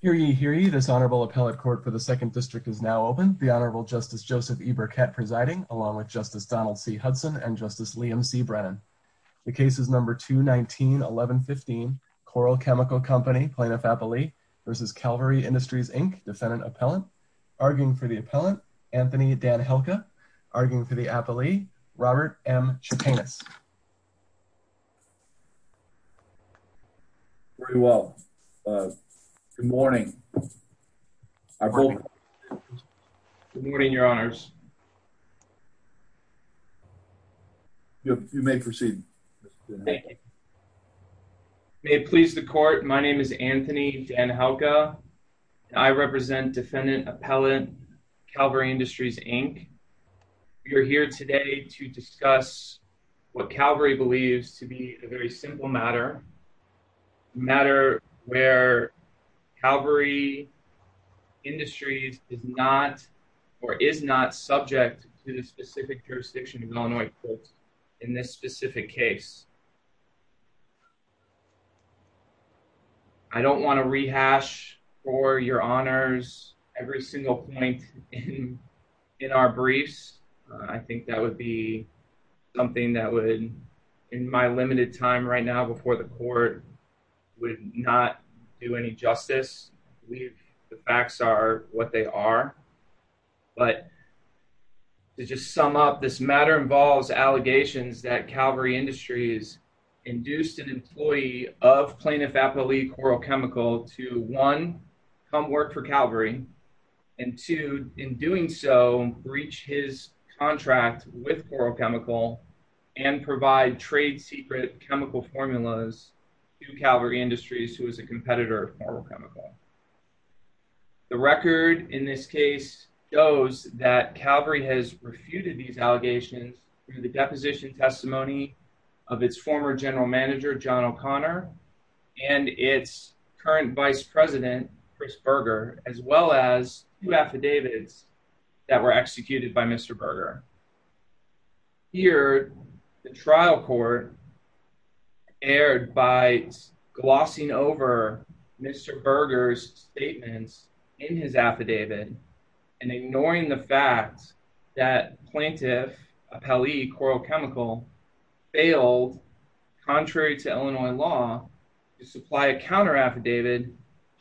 Hearing you, hearing you, this Honorable Appellate Court for the Second District is now open. The Honorable Justice Joseph E. Burkett presiding, along with Justice Donald C. Hudson and Justice Liam C. Brennan. The case is number 219-1115, Coral Chemical Company, Plaintiff-Appellee v. Calvary Industries, Inc., Defendant-Appellant. Arguing for the Appellant, Anthony Danhilka. Arguing for the Appellee, Robert M. Chepanis. Very well. Good morning. I vote. Good morning, Your Honors. You may proceed. May it please the Court, my name is Anthony Danhilka. I represent Defendant-Appellant, Calvary Industries, Inc. We are here today to discuss what Calvary believes to be a very simple matter. A matter where Calvary Industries is not or is not subject to the specific jurisdiction of the Illinois Court in this specific case. I don't want to rehash for Your Honors every single point in our briefs. I think that would be something that would, in my limited time right now before the Court, would not do any justice. The facts are what they are. But to just sum up, this matter involves allegations that Calvary Industries induced an employee of Plaintiff-Appellee Coral Chemical to, one, come work for Calvary, and two, in doing so, breach his contract with Coral Chemical and provide trade secret chemical formulas to Calvary Industries, who is a competitor of Coral Chemical. The record in this case shows that Calvary has refuted these allegations through the deposition testimony of its former General Manager, John O'Connor, and its current Vice President, Chris Berger, as well as two affidavits that were executed by Mr. Berger. Here, the trial court erred by glossing over Mr. Berger's affidavit and ignoring the fact that Plaintiff-Appellee Coral Chemical failed, contrary to Illinois law, to supply a counter affidavit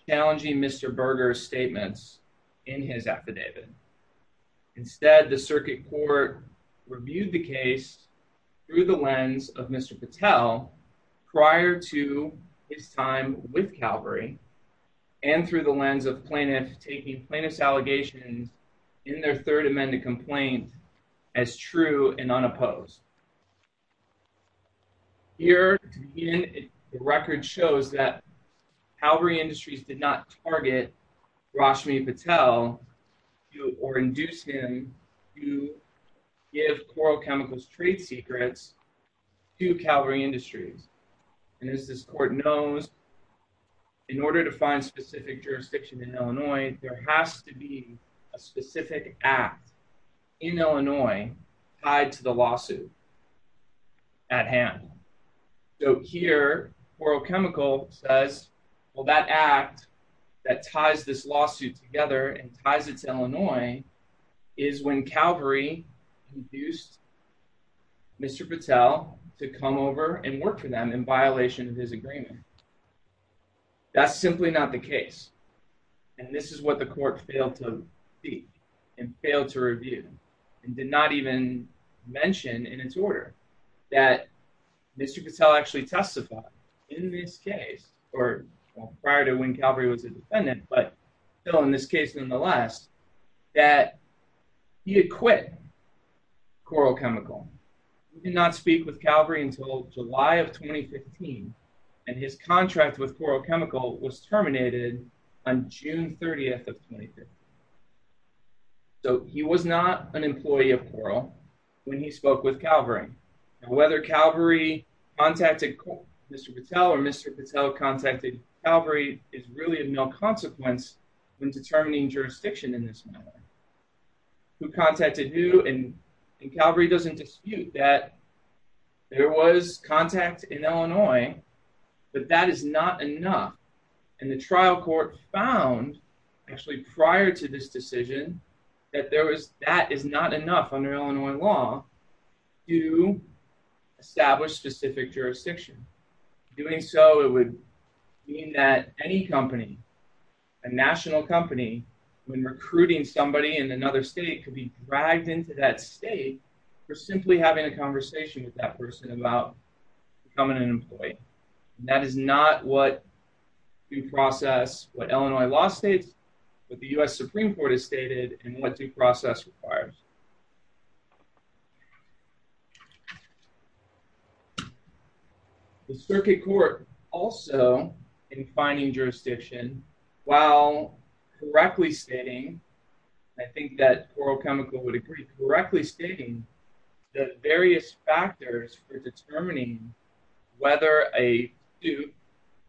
challenging Mr. Berger's statements in his affidavit. Instead, the circuit court reviewed the case through the lens of Mr. Patel prior to his time with Calvary and through the lens of Plaintiff taking Plaintiff's allegations in their third amended complaint as true and unopposed. Here, again, the record shows that Calvary Industries did not target Rashmi Patel or induce him to give Coral Chemical's trade secrets to Calvary Industries, and as this court knows, in order to find specific jurisdiction in Illinois, there has to be a specific act in Illinois tied to the lawsuit at hand. So here, Coral Chemical says, well, that act that ties this lawsuit together and ties it to Illinois is when Calvary induced Mr. Patel to come over and work with them in violation of his agreement. That's simply not the case, and this is what the court failed to speak and failed to review and did not even mention in its order that Mr. Patel actually testified in this case, or prior to when Calvary was a defendant, but still in this case, nonetheless, that he had quit Coral Chemical. He did not speak with Calvary until July of 2015, and his contract with Coral Chemical was terminated on June 30th of 2015. So he was not an employee of Coral when he spoke with Calvary, and whether Calvary contacted Mr. Patel or contacted Calvary is really of no consequence when determining jurisdiction in this matter. Who contacted who, and Calvary doesn't dispute that there was contact in Illinois, but that is not enough, and the trial court found, actually prior to this decision, that there was, that is not enough under Illinois law to establish specific jurisdiction. Doing so, it would mean that any company, a national company, when recruiting somebody in another state, could be dragged into that state for simply having a conversation with that person about becoming an employee. That is not what due process, what Illinois law states, what the U.S. Supreme Court has stated, and what due process requires. The circuit court also, in finding jurisdiction, while correctly stating, I think that Coral Chemical would agree, correctly stating the various factors for determining whether a suit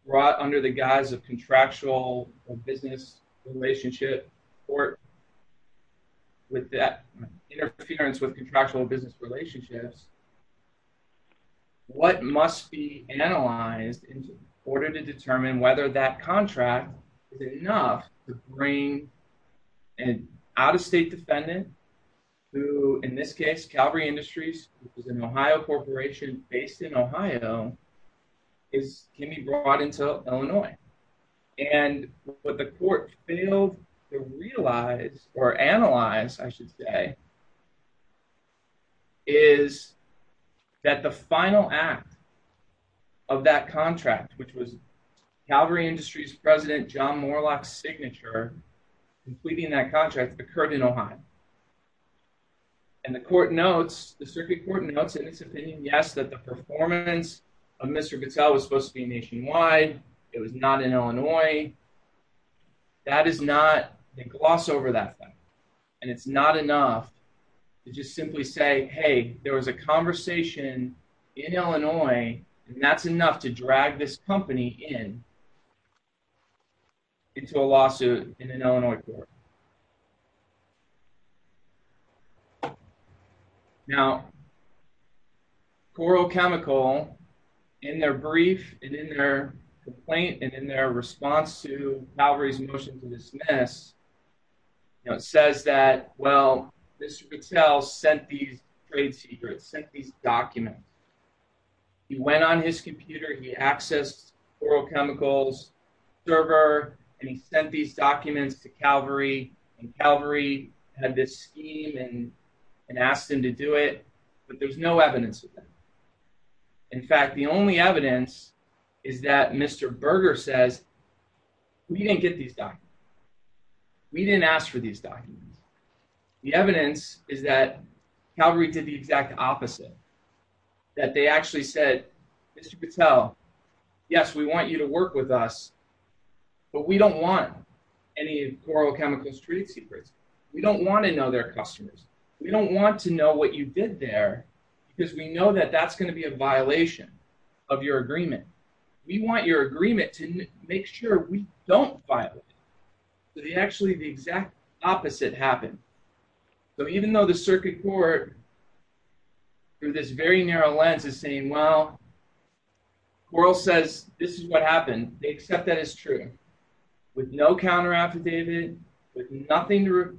brought under the guise of contractual business relationship court, with that interference with contractual business relationships, what must be analyzed in order to determine whether that contract is enough to bring an out-of-state defendant, who, in this case, Calvary Industries, which is an Ohio corporation based in Ohio, can be brought into Illinois. And what the court failed to realize, or analyze, I should say, is that the final act of that contract, which was Calvary Industries President John Moorlach's signature, completing that contract, occurred in Ohio. And the court notes, the circuit court notes in its opinion, yes, that the performance of Mr. Goodsell was supposed to gloss over that fact. And it's not enough to just simply say, hey, there was a conversation in Illinois, and that's enough to drag this company into a lawsuit in an Illinois court. Now, Coral Chemical, in their brief, and in their complaint, and in their response to you know, it says that, well, Mr. Goodsell sent these trade secrets, sent these documents. He went on his computer, he accessed Coral Chemical's server, and he sent these documents to Calvary, and Calvary had this scheme and asked him to do it. But there's no evidence of that. In fact, the only evidence is that Mr. Berger says, we didn't get these documents. We didn't ask for these documents. The evidence is that Calvary did the exact opposite, that they actually said, Mr. Goodsell, yes, we want you to work with us, but we don't want any of Coral Chemical's trade secrets. We don't want to know their customers. We don't want to know what you did there, because we know that that's going to be a violation of your agreement. We want your agreement to make sure we don't violate it. So they actually, the exact opposite happened. So even though the circuit court, through this very narrow lens, is saying, well, Coral says this is what happened, they accept that it's true, with no counter-affidavit, with nothing to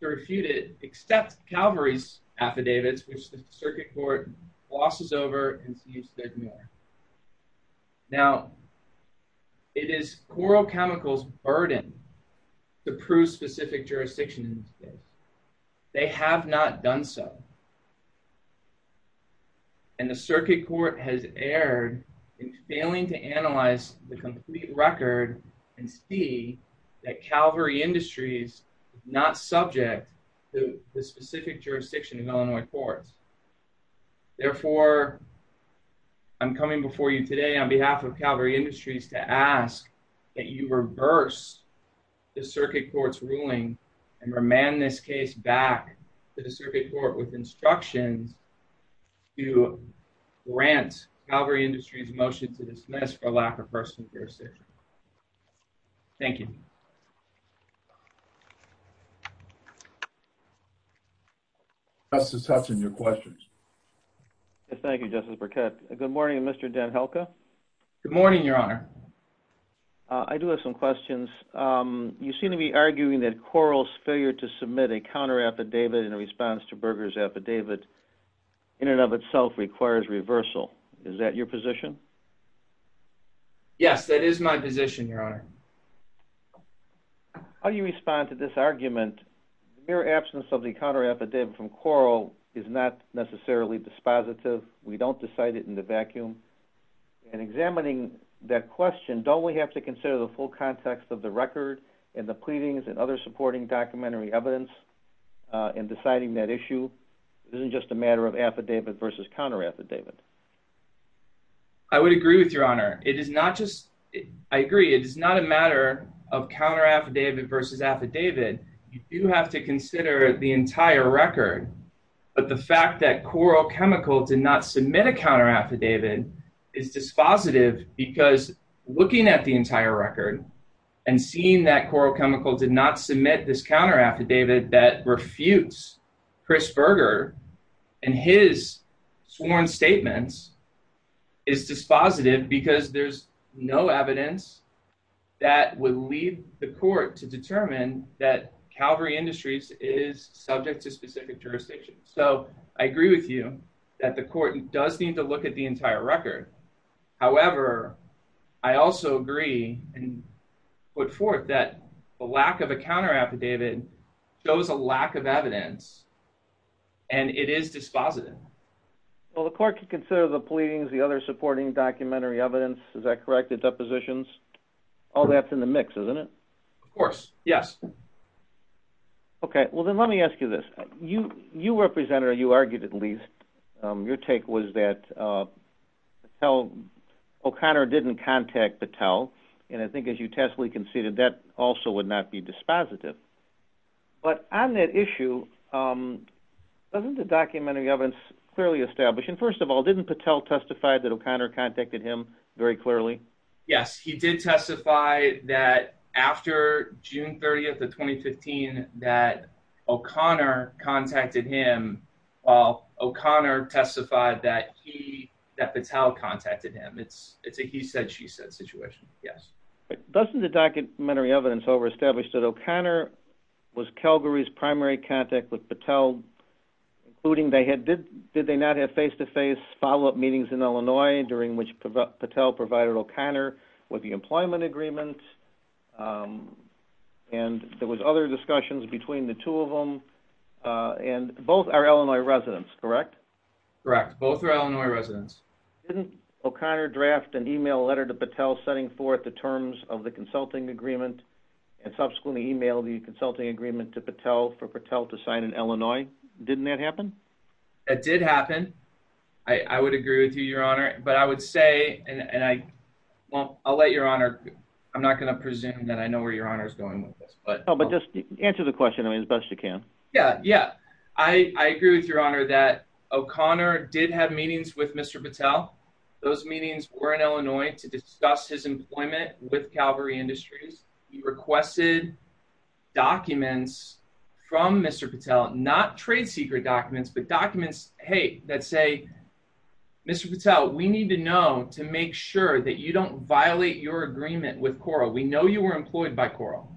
refute it, except Calvary's affidavits, which the circuit court glosses over and seems to ignore. Now, it is Coral Chemical's burden to prove specific jurisdictions. They have not done so. And the circuit court has erred in failing to analyze the complete record and see that Calvary Industries is not subject to the specific jurisdiction of Illinois courts. Therefore, I'm coming before you today on behalf of Calvary Industries to ask that you reverse the circuit court's ruling and remand this case back to the circuit court with instructions to grant Calvary Industries' motion to dismiss for lack of personal jurisdiction. Thank you. Justice Hutchins, your questions. Thank you, Justice Burkett. Good morning, Mr. Den Helke. Good morning, Your Honor. I do have some questions. You seem to be arguing that Coral's failure to submit a counter-affidavit in response to Berger's affidavit in and of itself requires reversal. Is that your position? Yes, that is my position, Your Honor. How do you respond to this argument? The mere absence of the counter-affidavit from Coral is not necessarily dispositive. We don't decide it in the vacuum. And examining that question, don't we have to consider the full context of the record and the pleadings and other supporting documentary evidence in deciding that issue? It isn't just a matter of affidavit versus counter-affidavit. I would agree with you, Your Honor. It is not just... I agree. It is not a matter of counter-affidavit versus affidavit. You do have to consider the entire record. But the fact that Coral Chemical did not submit a counter-affidavit is dispositive because looking at the entire record and seeing that Coral Chemical did not submit this counter-affidavit that refutes Chris Berger and his sworn statements is dispositive because there's no evidence that would lead the court to determine that Calvary Industries is subject to specific jurisdiction. So I agree with you that the court does need to look at the entire record. However, I also agree and put forth that the lack of a counter-affidavit shows a lack of evidence and it is dispositive. Well, the court could consider the pleadings, the other supporting documentary evidence. Is that correct? The depositions? All that's in the mix, isn't it? Of course. Yes. Okay. Well, then let me ask you this. You represented or you argued at least, your take was that Patel... O'Connor didn't contact Patel and I think as you testily conceded that also would not be dispositive. But on that issue, doesn't the documentary evidence clearly establish... And first of all, didn't Patel testified that O'Connor contacted him very clearly? Yes, he did testify that after June 30th of 2015 that O'Connor contacted him while O'Connor testified that Patel contacted him. It's a he said, she said situation. Yes. Doesn't the documentary evidence over-establish that O'Connor was Calgary's primary contact with did they not have face-to-face follow-up meetings in Illinois during which Patel provided O'Connor with the employment agreement and there was other discussions between the two of them and both are Illinois residents, correct? Correct. Both are Illinois residents. Didn't O'Connor draft an email letter to Patel setting forth the terms of the consulting agreement and subsequently emailed the consulting agreement to Patel for Patel to sign in Illinois? Didn't that happen? It did happen. I would agree with you, Your Honor. But I would say, and I won't, I'll let Your Honor, I'm not going to presume that I know where Your Honor is going with this, but... Oh, but just answer the question as best you can. Yeah, yeah. I agree with Your Honor that O'Connor did have meetings with Mr. Patel. Those meetings were in Illinois to discuss his employment with Calgary Industries. He requested documents from Mr. Patel, not trade secret documents, but documents, hey, that say, Mr. Patel, we need to know to make sure that you don't violate your agreement with Coral. We know you were employed by Coral.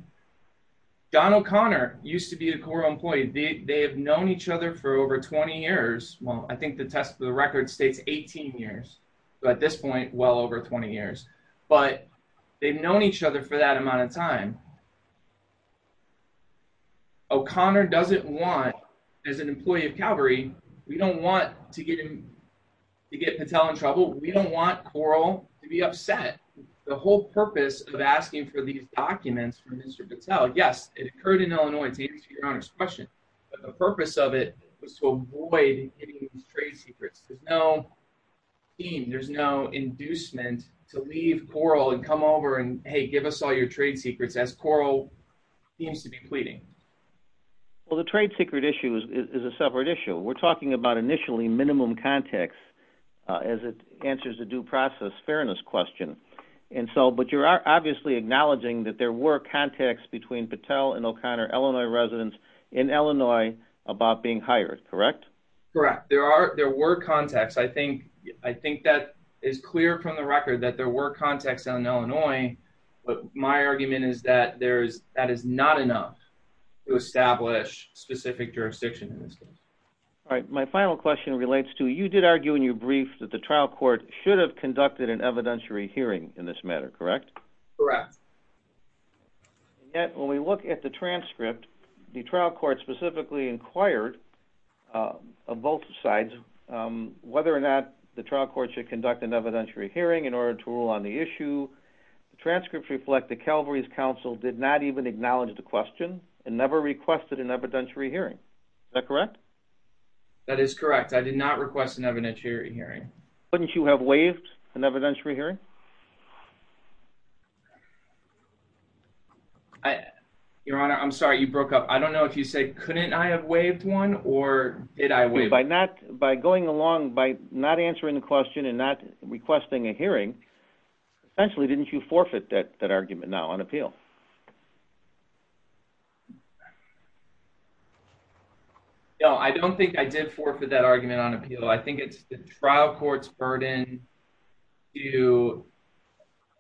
Don O'Connor used to be a Coral employee. They have known each other for over 20 years. Well, I think the test of the But they've known each other for that amount of time. O'Connor doesn't want, as an employee of Calgary, we don't want to get him, to get Patel in trouble. We don't want Coral to be upset. The whole purpose of asking for these documents from Mr. Patel, yes, it occurred in Illinois to answer Your Honor's question, but the purpose of it was to avoid any of these trade secrets. There's no scheme, there's no inducement to leave Coral and come over and, hey, give us all your trade secrets as Coral seems to be pleading. Well, the trade secret issue is a separate issue. We're talking about initially minimum context as it answers the due process fairness question. But you're obviously acknowledging that there were contacts between Patel and O'Connor, Illinois residents in Illinois about being hired, correct? Correct. There were contacts. I think that is clear from the record that there were contacts in Illinois, but my argument is that that is not enough to establish specific jurisdiction in this case. All right. My final question relates to, you did argue in your brief that the trial court should have conducted an evidentiary hearing in this matter, correct? Correct. Yet when we look at the transcript, the trial court specifically inquired of both sides whether or not the trial court should conduct an evidentiary hearing in order to rule on the issue. The transcripts reflect that Calvary's counsel did not even acknowledge the question and never requested an evidentiary hearing. Is that correct? That is correct. I did not request an evidentiary hearing. Couldn't you have waived an evidentiary hearing? I, Your Honor, I'm sorry you broke up. I don't know if you said couldn't I have waived one or did I waive it? By not, by going along by not answering the question and not requesting a hearing, essentially didn't you forfeit that argument now on appeal? No, I don't think I did forfeit that argument on appeal. I think it's the trial court's burden to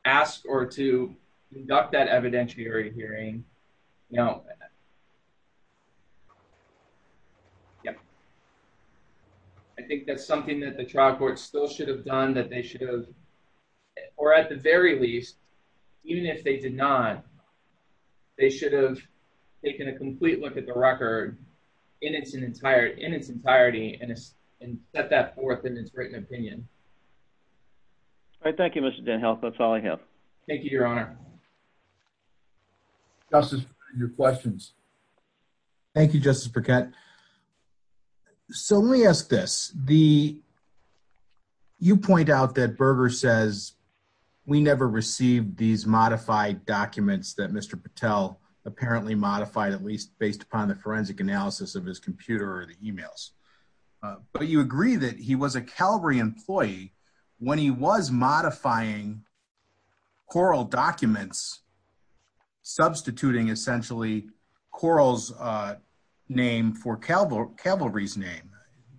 ask or to conduct that evidentiary hearing. I think that's something that the trial court still should have done that they should have, or at the very least, even if they did not, they should have taken a complete look at the record in its entirety and set that forth in its written opinion. All right. Thank you, Mr. DenHelt. That's all I have. Thank you, Your Honor. Justice, your questions. Thank you, Justice Burkett. So let me ask this. You point out that Berger says we never received these modified documents that Mr. Patel apparently modified, at least based upon the forensic analysis of his computer or the emails. But you agree that he was a Calvary employee when he was modifying Coral documents, substituting essentially Coral's name for Calvary's name.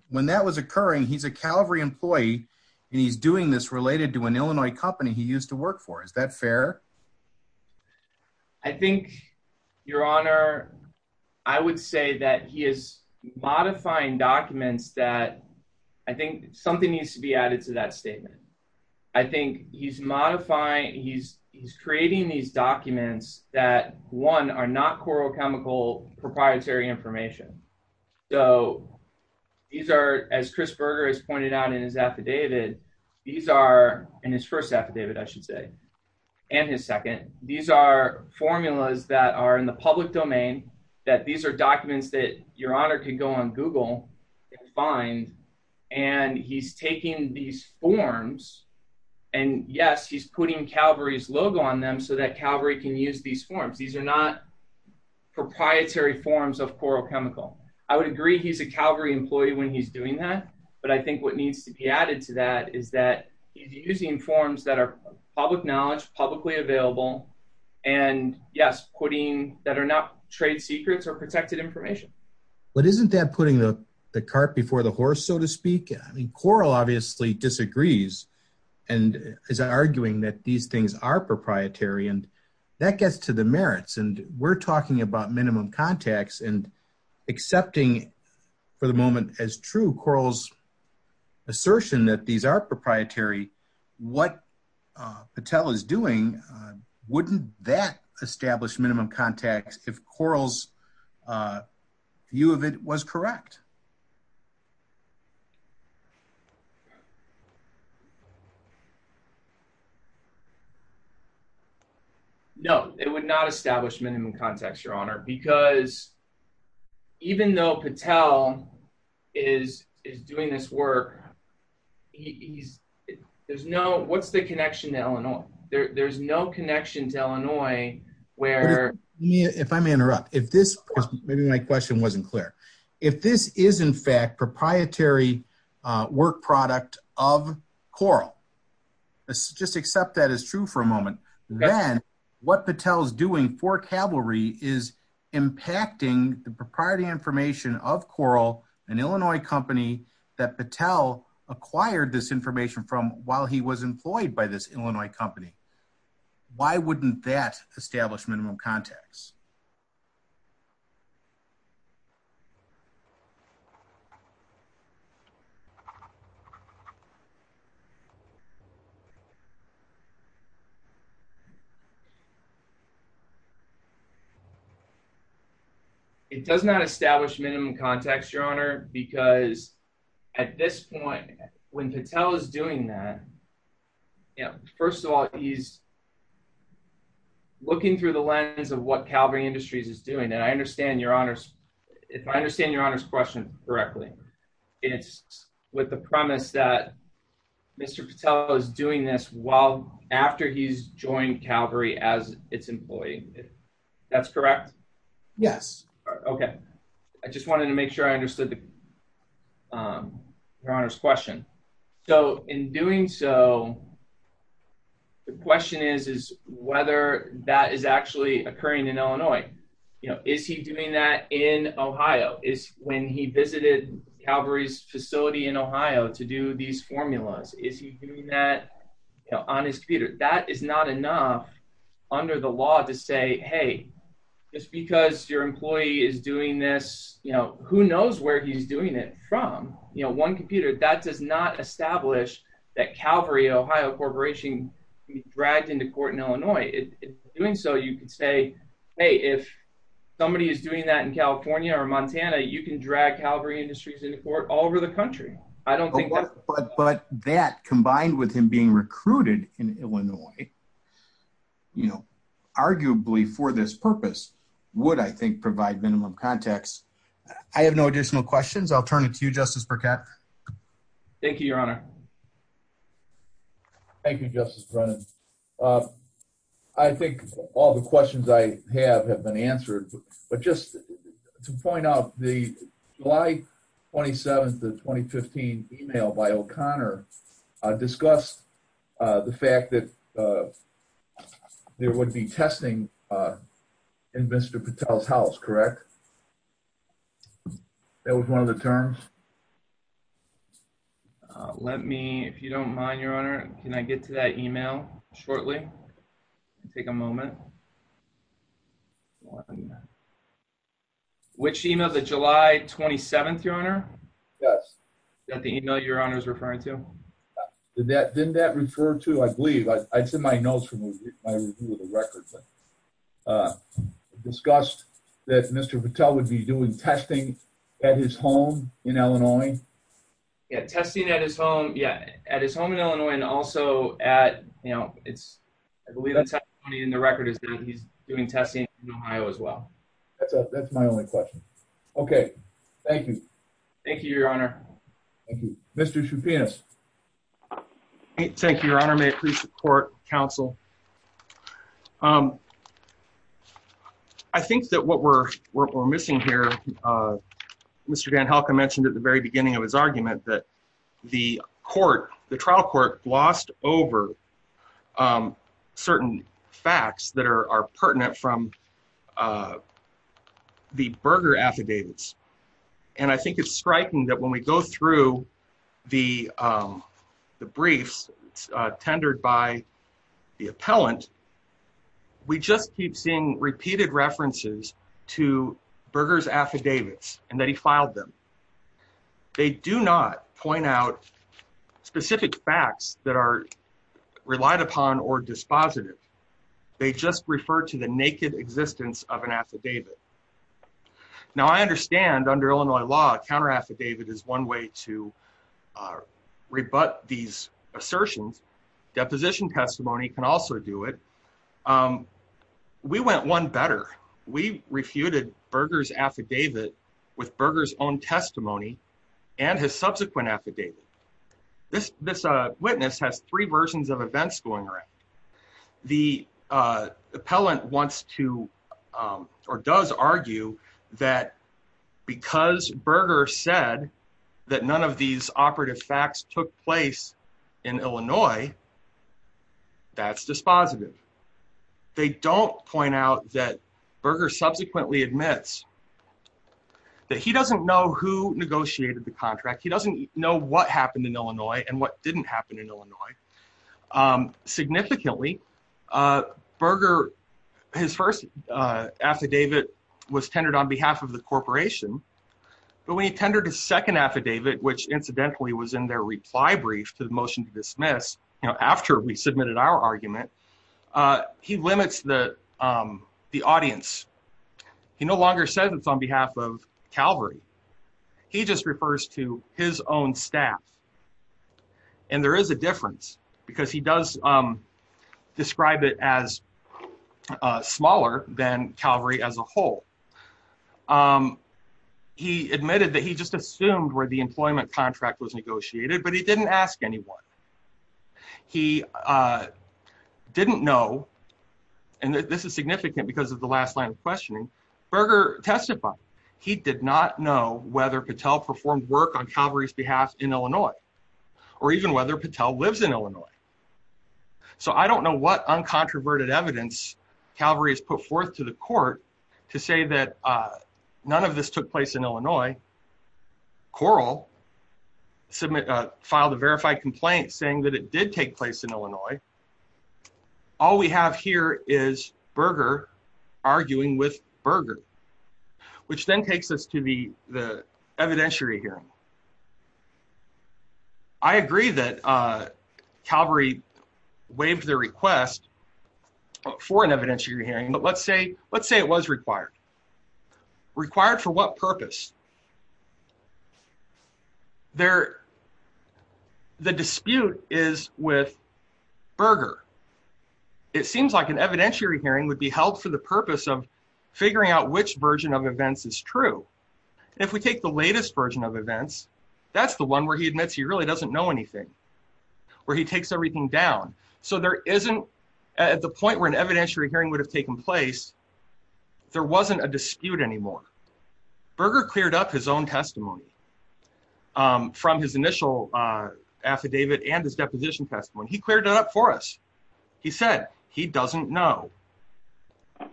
When that was occurring, he's a Calvary employee and he's doing this related to an Illinois company he used to work for. Is that fair? I think, Your Honor, I would say that he is modifying documents that I think something needs to be added to that statement. I think he's modifying, he's creating these documents that, one, are not Coral Chemical proprietary information. So these are, as Chris Berger has pointed out in his affidavit, these are, in his first affidavit, I should say, and his second, these are formulas that are in the public domain, that these are documents that Your Honor can go on Google and find. And he's taking these forms and, yes, he's putting Calvary's logo on them so that Calvary can use these forms. These are not proprietary forms of Coral Chemical. I would agree he's a Calvary employee when he's doing that, but I think what needs to be added to that is that he's using forms that are public knowledge, publicly available, and, yes, putting, that are not trade secrets or protected information. But isn't that putting the cart before the horse, so to speak? I mean, Coral obviously disagrees and is arguing that these things are proprietary, and that gets to the merits. And we're talking about minimum contacts and accepting for the moment as true Coral's assertion that these are proprietary. What Patel is doing, wouldn't that establish minimum contacts if Coral's view of it was correct? No, it would not establish minimum contacts, Your Honor, because even though Patel is doing this work, he's, there's no, what's the connection to Illinois? There's no connection to Illinois where If I may interrupt, if this, maybe my question wasn't clear. If this is, in fact, proprietary work product of Coral, let's just accept that as true for a moment, then what Patel is doing for Calvary is impacting the proprietary information of Coral, an Illinois company, that Patel acquired this information from while he was employed by this Illinois company. Why wouldn't that establish minimum contacts? It does not establish minimum contacts, Your Honor, because at this point, when Patel is doing that, you know, first of all, he's looking through the lens of what Calvary Industries is doing. And I understand Your Honor's, if I understand Your Honor's question correctly, it's with the premise that Mr. Patel is doing this while, after he's joined Calvary as its employee. That's correct? Yes. Okay. I just wanted to make sure I understood Your Honor's question. So in doing so, the question is, is whether that is actually occurring in Illinois? You know, is he doing that in Ohio? Is when he visited Calvary's facility in Ohio to do these formulas, is he doing that on his computer? That is not enough under the law to say, hey, just because your employee is doing this, you know, who knows where he's doing it from? You know, one computer, that does not establish that Calvary, Ohio Corporation can be dragged into court in Illinois. In doing so, you can say, hey, if somebody is doing that in California or Montana, you can drag Calvary Industries into court all over the country. I don't think that's... But that combined with him being recruited in Illinois, you know, arguably for this purpose, would I think provide minimum contacts? I have no additional questions. I'll turn it to you, Justice Burkett. Thank you, Your Honor. Thank you, Justice Brennan. I think all the questions I have have been answered, but just to point out the July 27th of 2015 email by O'Connor discussed the fact that there would be testing in Mr. Patel's house, correct? That was one of the terms. Let me, if you don't mind, Your Honor, can I get to that email shortly? Take a moment. Which email, the July 27th, Your Honor? Yes. That the email Your Honor is referring to? Did that, didn't that refer to, I believe, I'd send my notes from my review of the record, but discussed that Mr. Patel would be doing testing at his home in Illinois? Yeah, testing at his home, yeah, at his home in Illinois, and also at, you know, it's, I believe in the record is that he's doing testing in Ohio as well. That's my only question. Okay, thank you. Thank you, Your Honor. Thank you. Mr. Shoupias. Thank you, Your Honor. May it please the court, counsel. I think that what we're missing here, Mr. Van Helka mentioned at the very beginning of his argument that the court, the trial court glossed over certain facts that are pertinent from the Berger affidavits, and I think it's striking that when we go through the briefs tendered by the appellant, we just keep seeing repeated references to Berger's affidavits and that he filed them. They do not point out specific facts that are relied upon or dispositive. They just refer to the naked existence of an affidavit. Now, I understand under Illinois law, counter affidavit is one way to rebut these assertions. Deposition testimony can also do it. We went one better. We refuted Berger's affidavit with Berger's own testimony and his subsequent affidavit. This witness has three versions of events going around. The appellant wants to or does argue that because Berger said that none of these operative facts took place in Illinois, that's dispositive. They don't point out that Berger subsequently admits that he doesn't know who negotiated the contract. He doesn't know what happened in Illinois and what didn't happen in Illinois. Significantly, Berger, his first affidavit was tendered on behalf of the corporation, but when he tendered his second affidavit, which incidentally was in their reply brief to the motion to dismiss, you know, after we submitted our argument, he limits the audience. He no longer says it's on behalf of Calvary. He just refers to his own staff. And there is a difference because he does describe it as smaller than Calvary as a whole. He admitted that he just assumed where the employment contract was negotiated, but he didn't ask anyone. He didn't know, and this is significant because of the last line of questioning, Berger testified he did not know whether Patel performed work on Calvary's behalf in Illinois or even whether Patel lives in Illinois. So I don't know what uncontroverted evidence Calvary has put forth to the court to say that none of this took place in Illinois. Coral filed a verified complaint saying that it did take place in Illinois. All we have here is Berger arguing with Berger, which then takes us to the evidentiary hearing. I agree that Calvary waived their request for an evidentiary hearing, but let's say it was required. Required for what purpose? The dispute is with Berger. It seems like an evidentiary hearing would be held for the purpose of figuring out which version of events is true. If we take the latest version of events, that's the one where he admits he really doesn't know anything, where he takes everything down. So there isn't at the point where an evidentiary hearing would have taken place, there wasn't a dispute anymore. Berger cleared up his own testimony from his initial affidavit and his deposition testimony. He cleared it up for us. He said he doesn't know.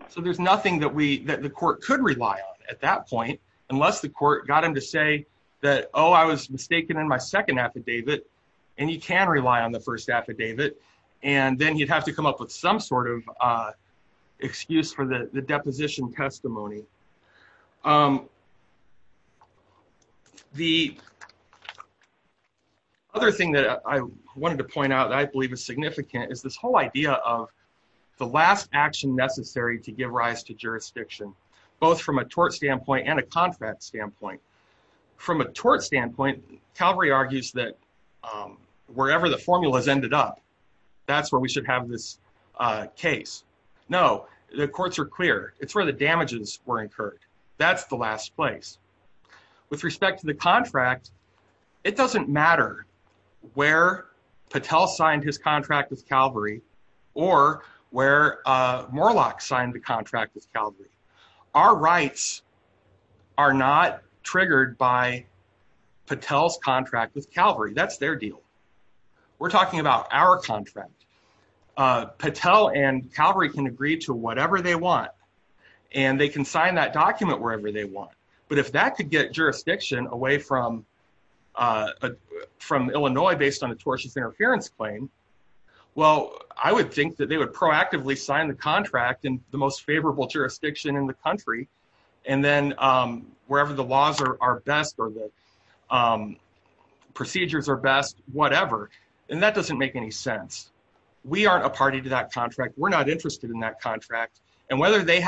So there's nothing that the court could rely on at that point unless the court got him to say that, oh, I was mistaken in my second affidavit, and you can rely on the first affidavit, and then he'd have to come up with some sort of excuse for the deposition testimony. The other thing that I wanted to point out that I believe is significant is this whole idea of the last action necessary to give rise to jurisdiction, both from a tort standpoint and a contract standpoint. From a tort standpoint, Calvary courts are clear. It's where the damages were incurred. That's the last place. With respect to the contract, it doesn't matter where Patel signed his contract with Calvary or where Moorlach signed the contract with Calvary. Our rights are not triggered by Patel's contract with Calvary. That's their deal. We're talking about our contract. Patel and Calvary can agree to whatever they want, and they can sign that document wherever they want, but if that could get jurisdiction away from Illinois based on a tortious interference claim, well, I would think that they would proactively sign the contract in the most favorable jurisdiction in the country, and then wherever the laws are best or the we aren't a party to that contract, we're not interested in that contract, and whether they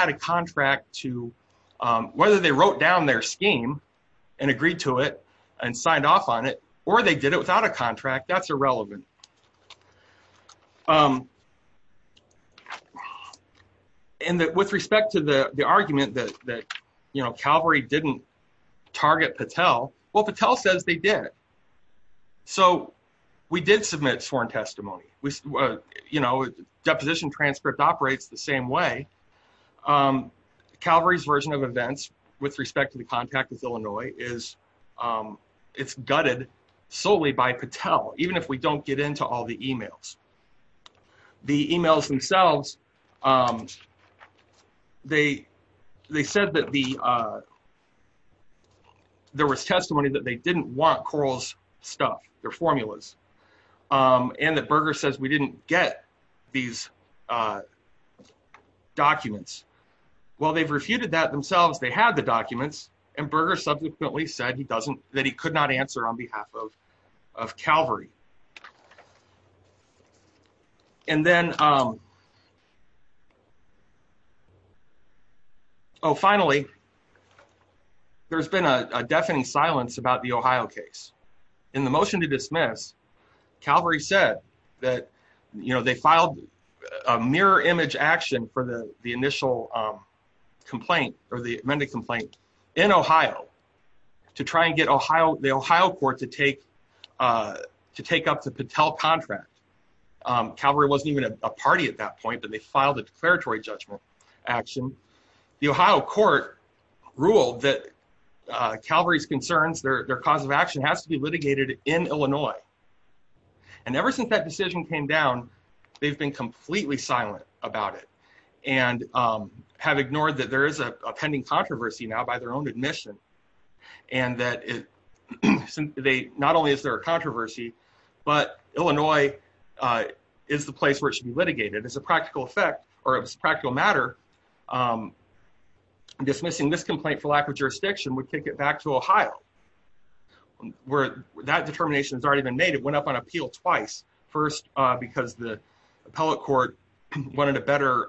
wrote down their scheme and agreed to it and signed off on it, or they did it without a contract, that's irrelevant. With respect to the argument that Calvary didn't target Patel, well, Patel says they did. So we did submit sworn testimony. Deposition transcript operates the same way. Calvary's version of events with respect to the contact with Illinois is gutted solely by Patel, even if we don't get into all the emails. The emails themselves, they said that there was testimony that they didn't want Coral's stuff, their formulas, and that Berger says we didn't get these documents. Well, they've refuted that themselves. They had the documents, and Berger subsequently said that he could not answer on behalf of Calvary. And then, finally, there's been a deafening silence about the Ohio case. In the motion to dismiss, Calvary said that they filed a mirror image action for the initial complaint or the amended complaint in Ohio to try and get the Ohio court to take a look at the case. Calvary wasn't even a party at that point, but they filed a declaratory judgment action. The Ohio court ruled that Calvary's concerns, their cause of action, has to be litigated in Illinois. And ever since that decision came down, they've been completely silent about it and have ignored that there is a pending controversy now by their own admission, and that not only is there a controversy, but Illinois is the place where it should be litigated. As a practical effect, or as a practical matter, dismissing this complaint for lack of jurisdiction would take it back to Ohio, where that determination has already been made. It went up on appeal twice. First, because the appellate court wanted a better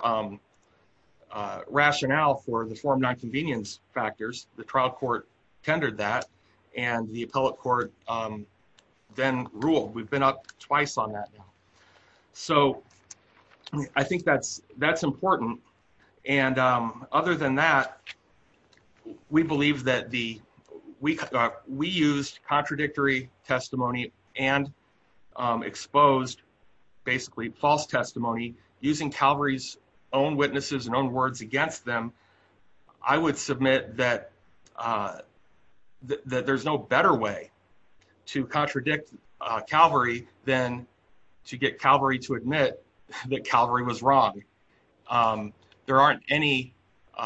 rationale for the form nonconvenience factors. The trial court tendered that and the appellate court then ruled. We've been up twice on that now. So I think that's important. And other than that, we believe that we used contradictory testimony and exposed basically false testimony using Calvary's own witnesses and own words against them. I would submit that that there's no better way to contradict Calvary than to get Calvary to admit that Calvary was wrong. There aren't any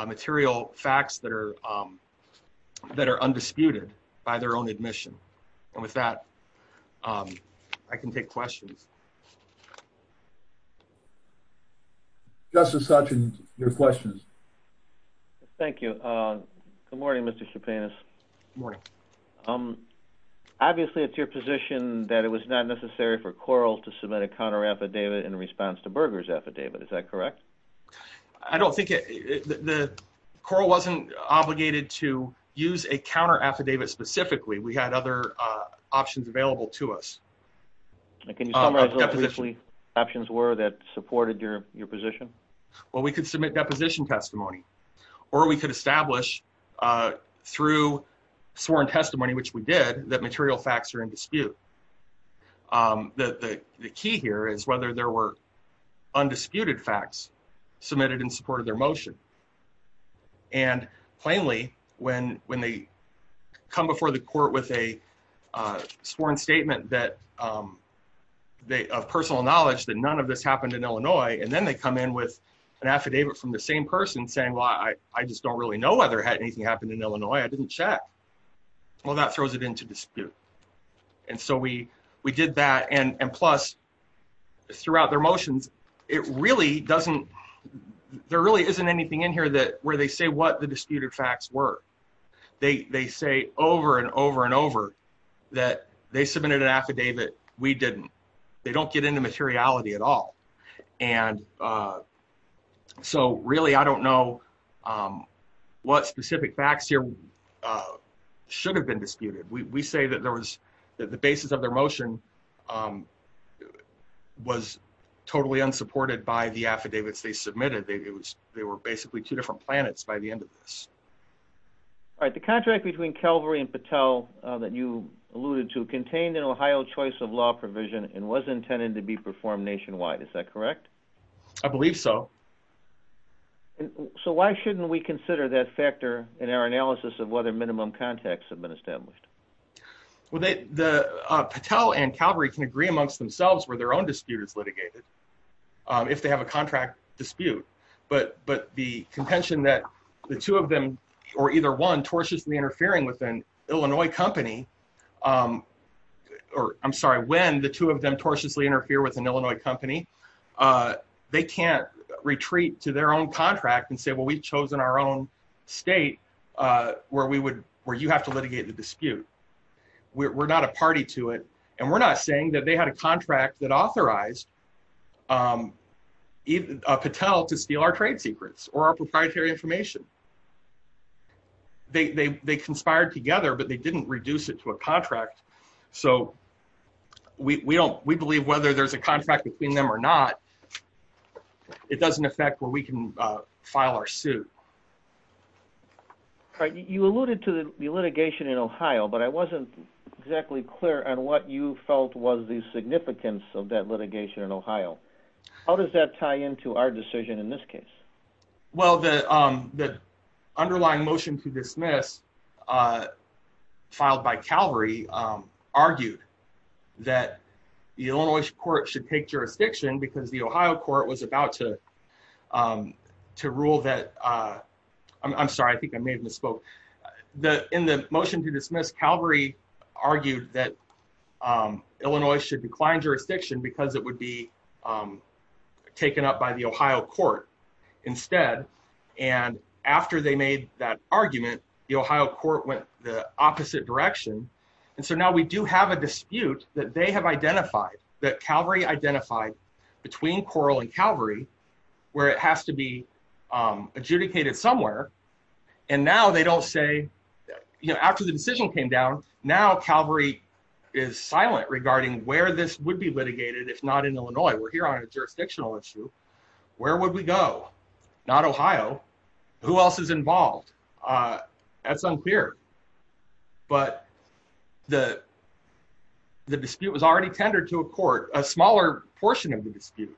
material facts that are undisputed by their own admission. And with that, I can take questions. Justice Hutchins, your questions. Thank you. Good morning, Mr. Stepanis. Good morning. Obviously, it's your position that it was not necessary for Coral to submit a counteraffidavit in response to Berger's affidavit. Is that correct? I don't think it... Coral wasn't obligated to use a counteraffidavit specifically. We had other options available to us. Can you summarize what those options were that supported your position? Well, we could submit deposition testimony or we could establish through sworn testimony, which we did, that material facts are in dispute. The key here is whether there were undisputed facts submitted in support of their motion. And plainly, when they come before the court with a sworn statement of personal knowledge that none of this happened in Illinois, and then they come in with an affidavit from the same person saying, well, I just don't really know whether anything happened in Illinois. I didn't check. Well, that throws it into dispute. And so we did that. And plus, throughout their motions, it really doesn't... There really isn't anything in here where they say what the disputed facts were. They say over and over and over that they submitted an affidavit. We didn't. They don't get into materiality at all. And so really, I don't know what specific facts here should have been supported by the affidavits they submitted. They were basically two different planets by the end of this. All right. The contract between Calvary and Patel that you alluded to contained an Ohio choice of law provision and was intended to be performed nationwide. Is that correct? I believe so. So why shouldn't we consider that factor in our analysis of whether minimum contacts have been established? Well, Patel and Calvary can agree amongst themselves where their dispute is litigated, if they have a contract dispute. But the contention that the two of them, or either one, tortiously interfering with an Illinois company... Or I'm sorry, when the two of them tortiously interfere with an Illinois company, they can't retreat to their own contract and say, well, we've chosen our own state where you have to litigate the dispute. We're not a party to it. And we're not saying that they had a contract that authorized Patel to steal our trade secrets or our proprietary information. They conspired together, but they didn't reduce it to a contract. So we believe whether there's a contract between them or not, it doesn't affect where we can file our suit. All right. You alluded to the litigation in Ohio, but I wasn't exactly clear on what you felt was the significance of that litigation in Ohio. How does that tie into our decision in this case? Well, the underlying motion to dismiss filed by Calvary argued that the Illinois court should take jurisdiction because the Ohio court was about to rule that... I'm sorry, I think I may have misspoke. In the motion to dismiss, Calvary argued that Illinois should decline jurisdiction because it would be taken up by the Ohio court instead. And after they made that argument, the Ohio court went the opposite direction. And so now we do have a dispute that they have identified, that Calvary identified between Coral and Calvary, where it has to be adjudicated somewhere. And now they don't say... After the decision came down, now Calvary is silent regarding where this would be litigated if not in Illinois. We're here on a jurisdictional issue. Where would we go? Not Ohio. Who else is involved? That's unclear. But the dispute was already tendered to a court. A smaller portion of the dispute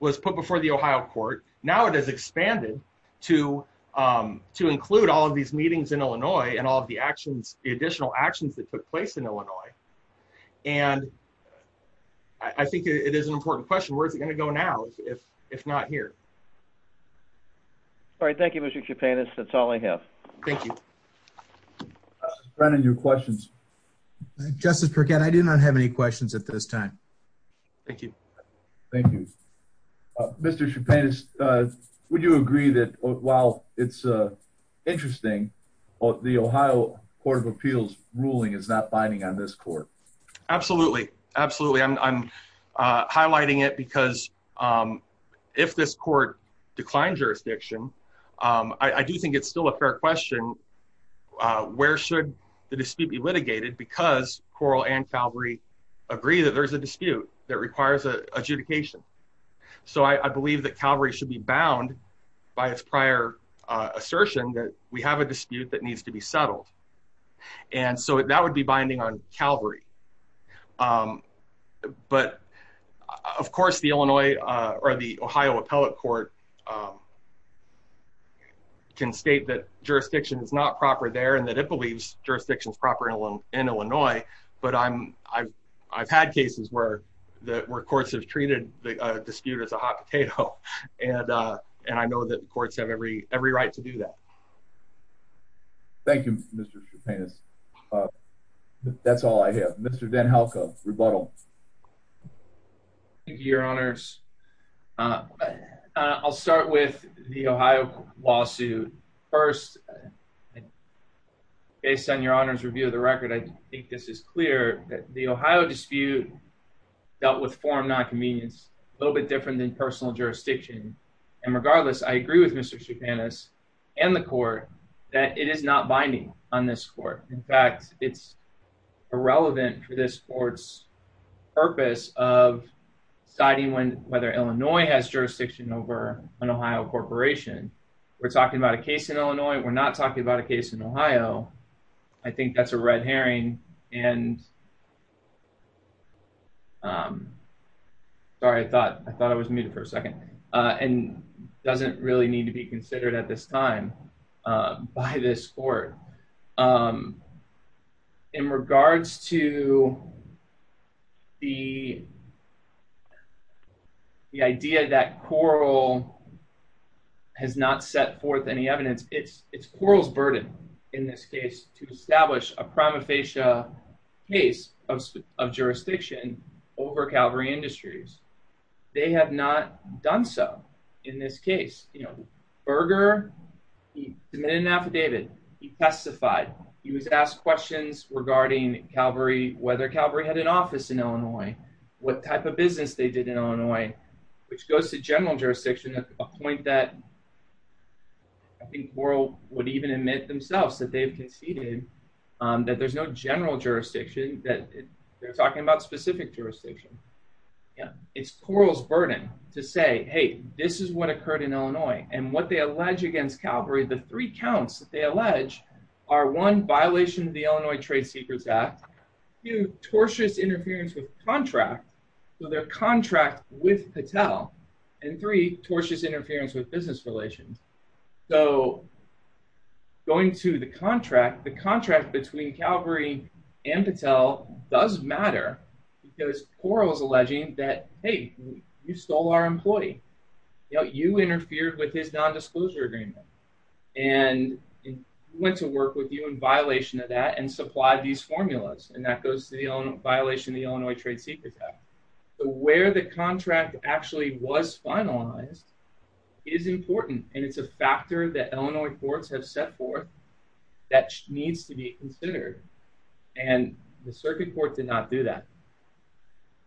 was put before the Ohio court. Now it has expanded to include all of these meetings in Illinois and all of the actions, the additional actions that took place in Illinois. And I think it is an important question. Where is it going to go now if not here? All right. Thank you, Mr. Chepanis. That's all I have. Thank you. Brennan, your questions? Justice Burkett, I do not have any questions at this time. Thank you. Thank you. Mr. Chepanis, would you agree that while it's interesting, the Ohio Court of Appeals ruling is not binding on this court? Absolutely. Absolutely. I'm highlighting it because if this court declined jurisdiction, I do think it's still a fair question. Where should the dispute be litigated? Because Coral and Calvary agree that there's a dispute that requires adjudication. So I believe that Calvary should be bound by its prior assertion that we have a dispute that needs to be settled. And so that would be binding on Calvary. But of course, the Illinois or the Ohio Appellate Court can state that jurisdiction is not proper there and that it believes jurisdiction is proper in Illinois. But I've had cases where courts have treated the dispute as a hot potato. And I know that courts have every right to do that. Thank you, Mr. Chepanis. But that's all I have. Mr. Van Helkove, rebuttal. Thank you, Your Honors. I'll start with the Ohio lawsuit. First, based on Your Honor's review of the record, I think this is clear that the Ohio dispute dealt with form nonconvenience, a little bit different than personal jurisdiction. And regardless, I agree with Mr. Chepanis and the court that it is not binding on this court. In fact, it's irrelevant for this court's purpose of deciding whether Illinois has jurisdiction over an Ohio corporation. We're talking about a case in Illinois. We're not talking about a case in Ohio. I think that's a red herring. And sorry, I thought I was muted for a second and doesn't really need to be considered at this time by this court. In regards to the idea that Corl has not set forth any evidence, it's Corl's burden in this case to establish a prima facie case of jurisdiction over Calvary Industries. They have not done so in this case. Berger, he submitted an affidavit, he testified, he was asked questions regarding Calvary, whether Calvary had an office in Illinois, what type of business they did in Illinois, which goes to general jurisdiction at a point that I think Corl would even admit themselves that they've conceded that there's no general jurisdiction. It's Corl's burden to say, hey, this is what occurred in Illinois. And what they allege against Calvary, the three counts that they allege are one, violation of the Illinois Trade Secrets Act, two, tortious interference with contract, so their contract with Patel, and three, tortious interference with business relations. So going to the contract, the contract between Calvary and Patel does matter because Corl is alleging that, hey, you stole our employee, you know, you interfered with his non-disclosure agreement, and went to work with you in violation of that, and supplied these formulas, and that goes to the own violation of the Illinois Trade Secrets Act. So where the contract actually was finalized is important, and it's a factor that Illinois courts have set forth that needs to be considered, and the circuit court did not do that.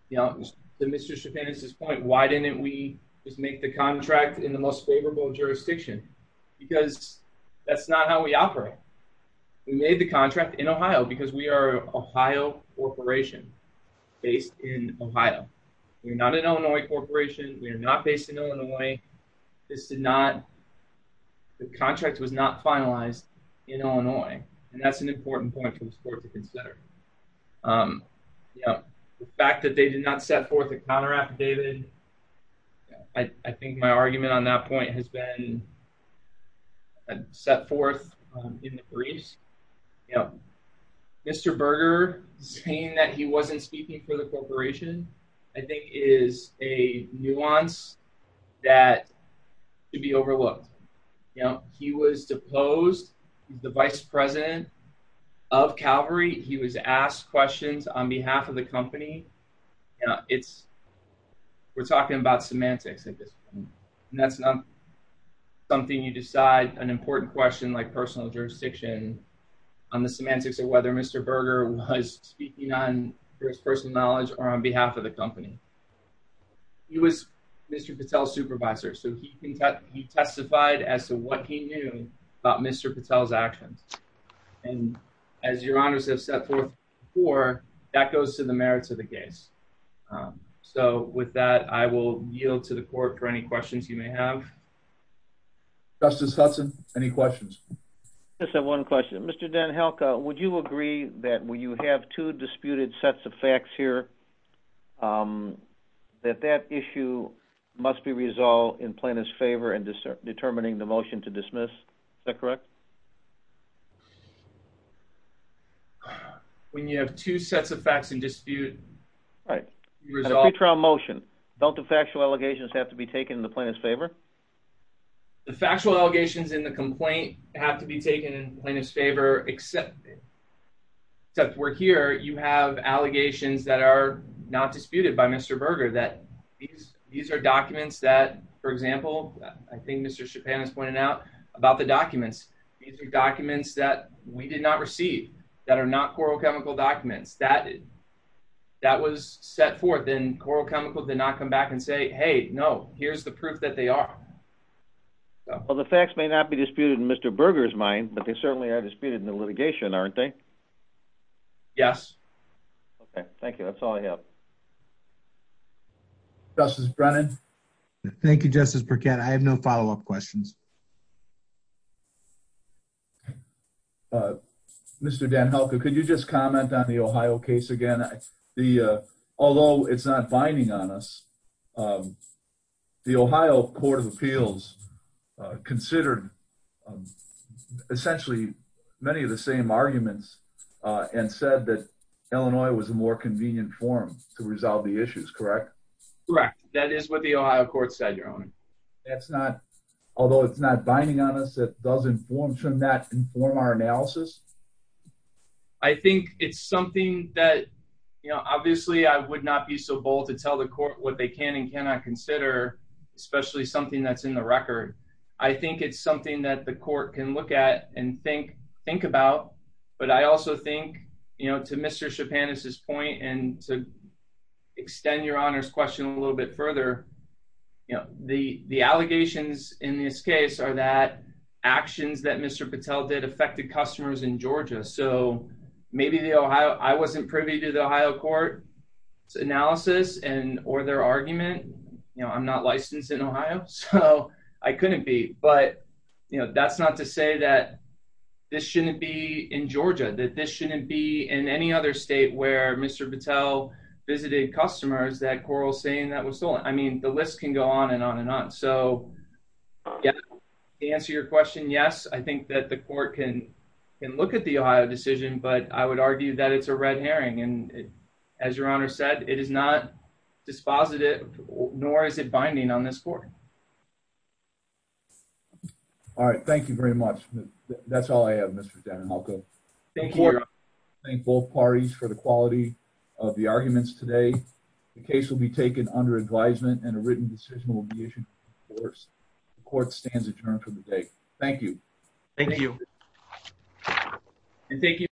You know, to Mr. Chapin's point, why didn't we just make the contract in the most favorable jurisdiction? Because that's not how we operate. We made the contract in Ohio because we are an Ohio corporation based in Ohio. We're not an Illinois corporation. We are not based in Illinois. This did not, the contract was not finalized in Illinois, and that's an important point for the court to consider. You know, the fact that they did not set forth a counteract, David, I think my argument on that point has been set forth in the briefs. You know, Mr. Berger saying that he wasn't speaking for the corporation, I think is a nuance that should be overlooked. You know, he was deposed. He's the vice president of Calvary. He was asked questions on behalf of the company. You know, it's, we're talking about semantics at this point, and that's not something you decide, an important question like personal jurisdiction on the semantics of whether Mr. Berger was speaking on his personal knowledge or on behalf of the company. He was Mr. Patel's supervisor, so he testified as to what he knew about Mr. Patel's actions. And as your honors have set forth before, that goes to the merits of the case. So with that, I will yield to the court for any questions you may have. Justice Hudson, any questions? I just have one question. Mr. DenHelke, would you agree that when you have two disputed sets of facts here, that that issue must be resolved in plaintiff's favor in determining the motion to dismiss? Is that correct? When you have two sets of facts in dispute... Right. A pre-trial motion. Don't the factual allegations have to be taken in the plaintiff's favor? The factual allegations in the complaint have to be taken in plaintiff's favor, except we're here, you have allegations that are not disputed by Mr. Berger, that these are documents that, for example, I think Mr. Chapin has pointed out about the documents. These are documents that we did not receive, that are not Coral Chemical documents. That was set forth, and Coral Chemical did not come back and say, hey, no, here's the proof that they are. Well, the facts may not be disputed in Mr. Berger's mind, but they certainly are disputed in the litigation, aren't they? Yes. Okay, thank you. That's all I have. Justice Brennan? Thank you, Justice Burkett. I have no follow-up questions. Mr. DenHelke, could you just comment on the Ohio case again? The, although it's not binding on us, the Ohio Court of Appeals considered essentially many of the same arguments and said that Illinois was a more convenient form to resolve the issues, correct? Correct. That is what the Ohio court said, Your Honor. That's not, although it's not binding on us, it does inform, should not inform our analysis? I think it's something that, you know, obviously I would not be so bold to tell the court what they can and cannot consider, especially something that's in the record. I think it's something that the court can look at and think, think about, but I also think, you know, to Mr. Chapandis' point and to extend Your Honor's question a little bit further, you know, the, the allegations in this case are that actions that Mr. Patel did affected customers in Georgia. So, maybe the Ohio, I wasn't privy to the Ohio court's analysis and, or their argument. You know, I'm not licensed in Ohio, so I couldn't be, but you know, that's not to say that this shouldn't be in Georgia, that this shouldn't be in any other state where Mr. Patel visited customers that quarrel saying that was stolen. I mean, the list can go on and on and on. So, to answer your question, yes, I think that the court can look at the Ohio decision, but I would argue that it's a red herring. And as Your Honor said, it is not dispositive, nor is it binding on this court. All right. Thank you very much. That's all I have, Mr. Danahalko. Thank you, Your Honor. I thank both parties for the quality of the arguments today. The case will be taken under advisement and a written decision will be issued in due course. The court stands adjourned for the day. Thank you. Thank you. Thank you.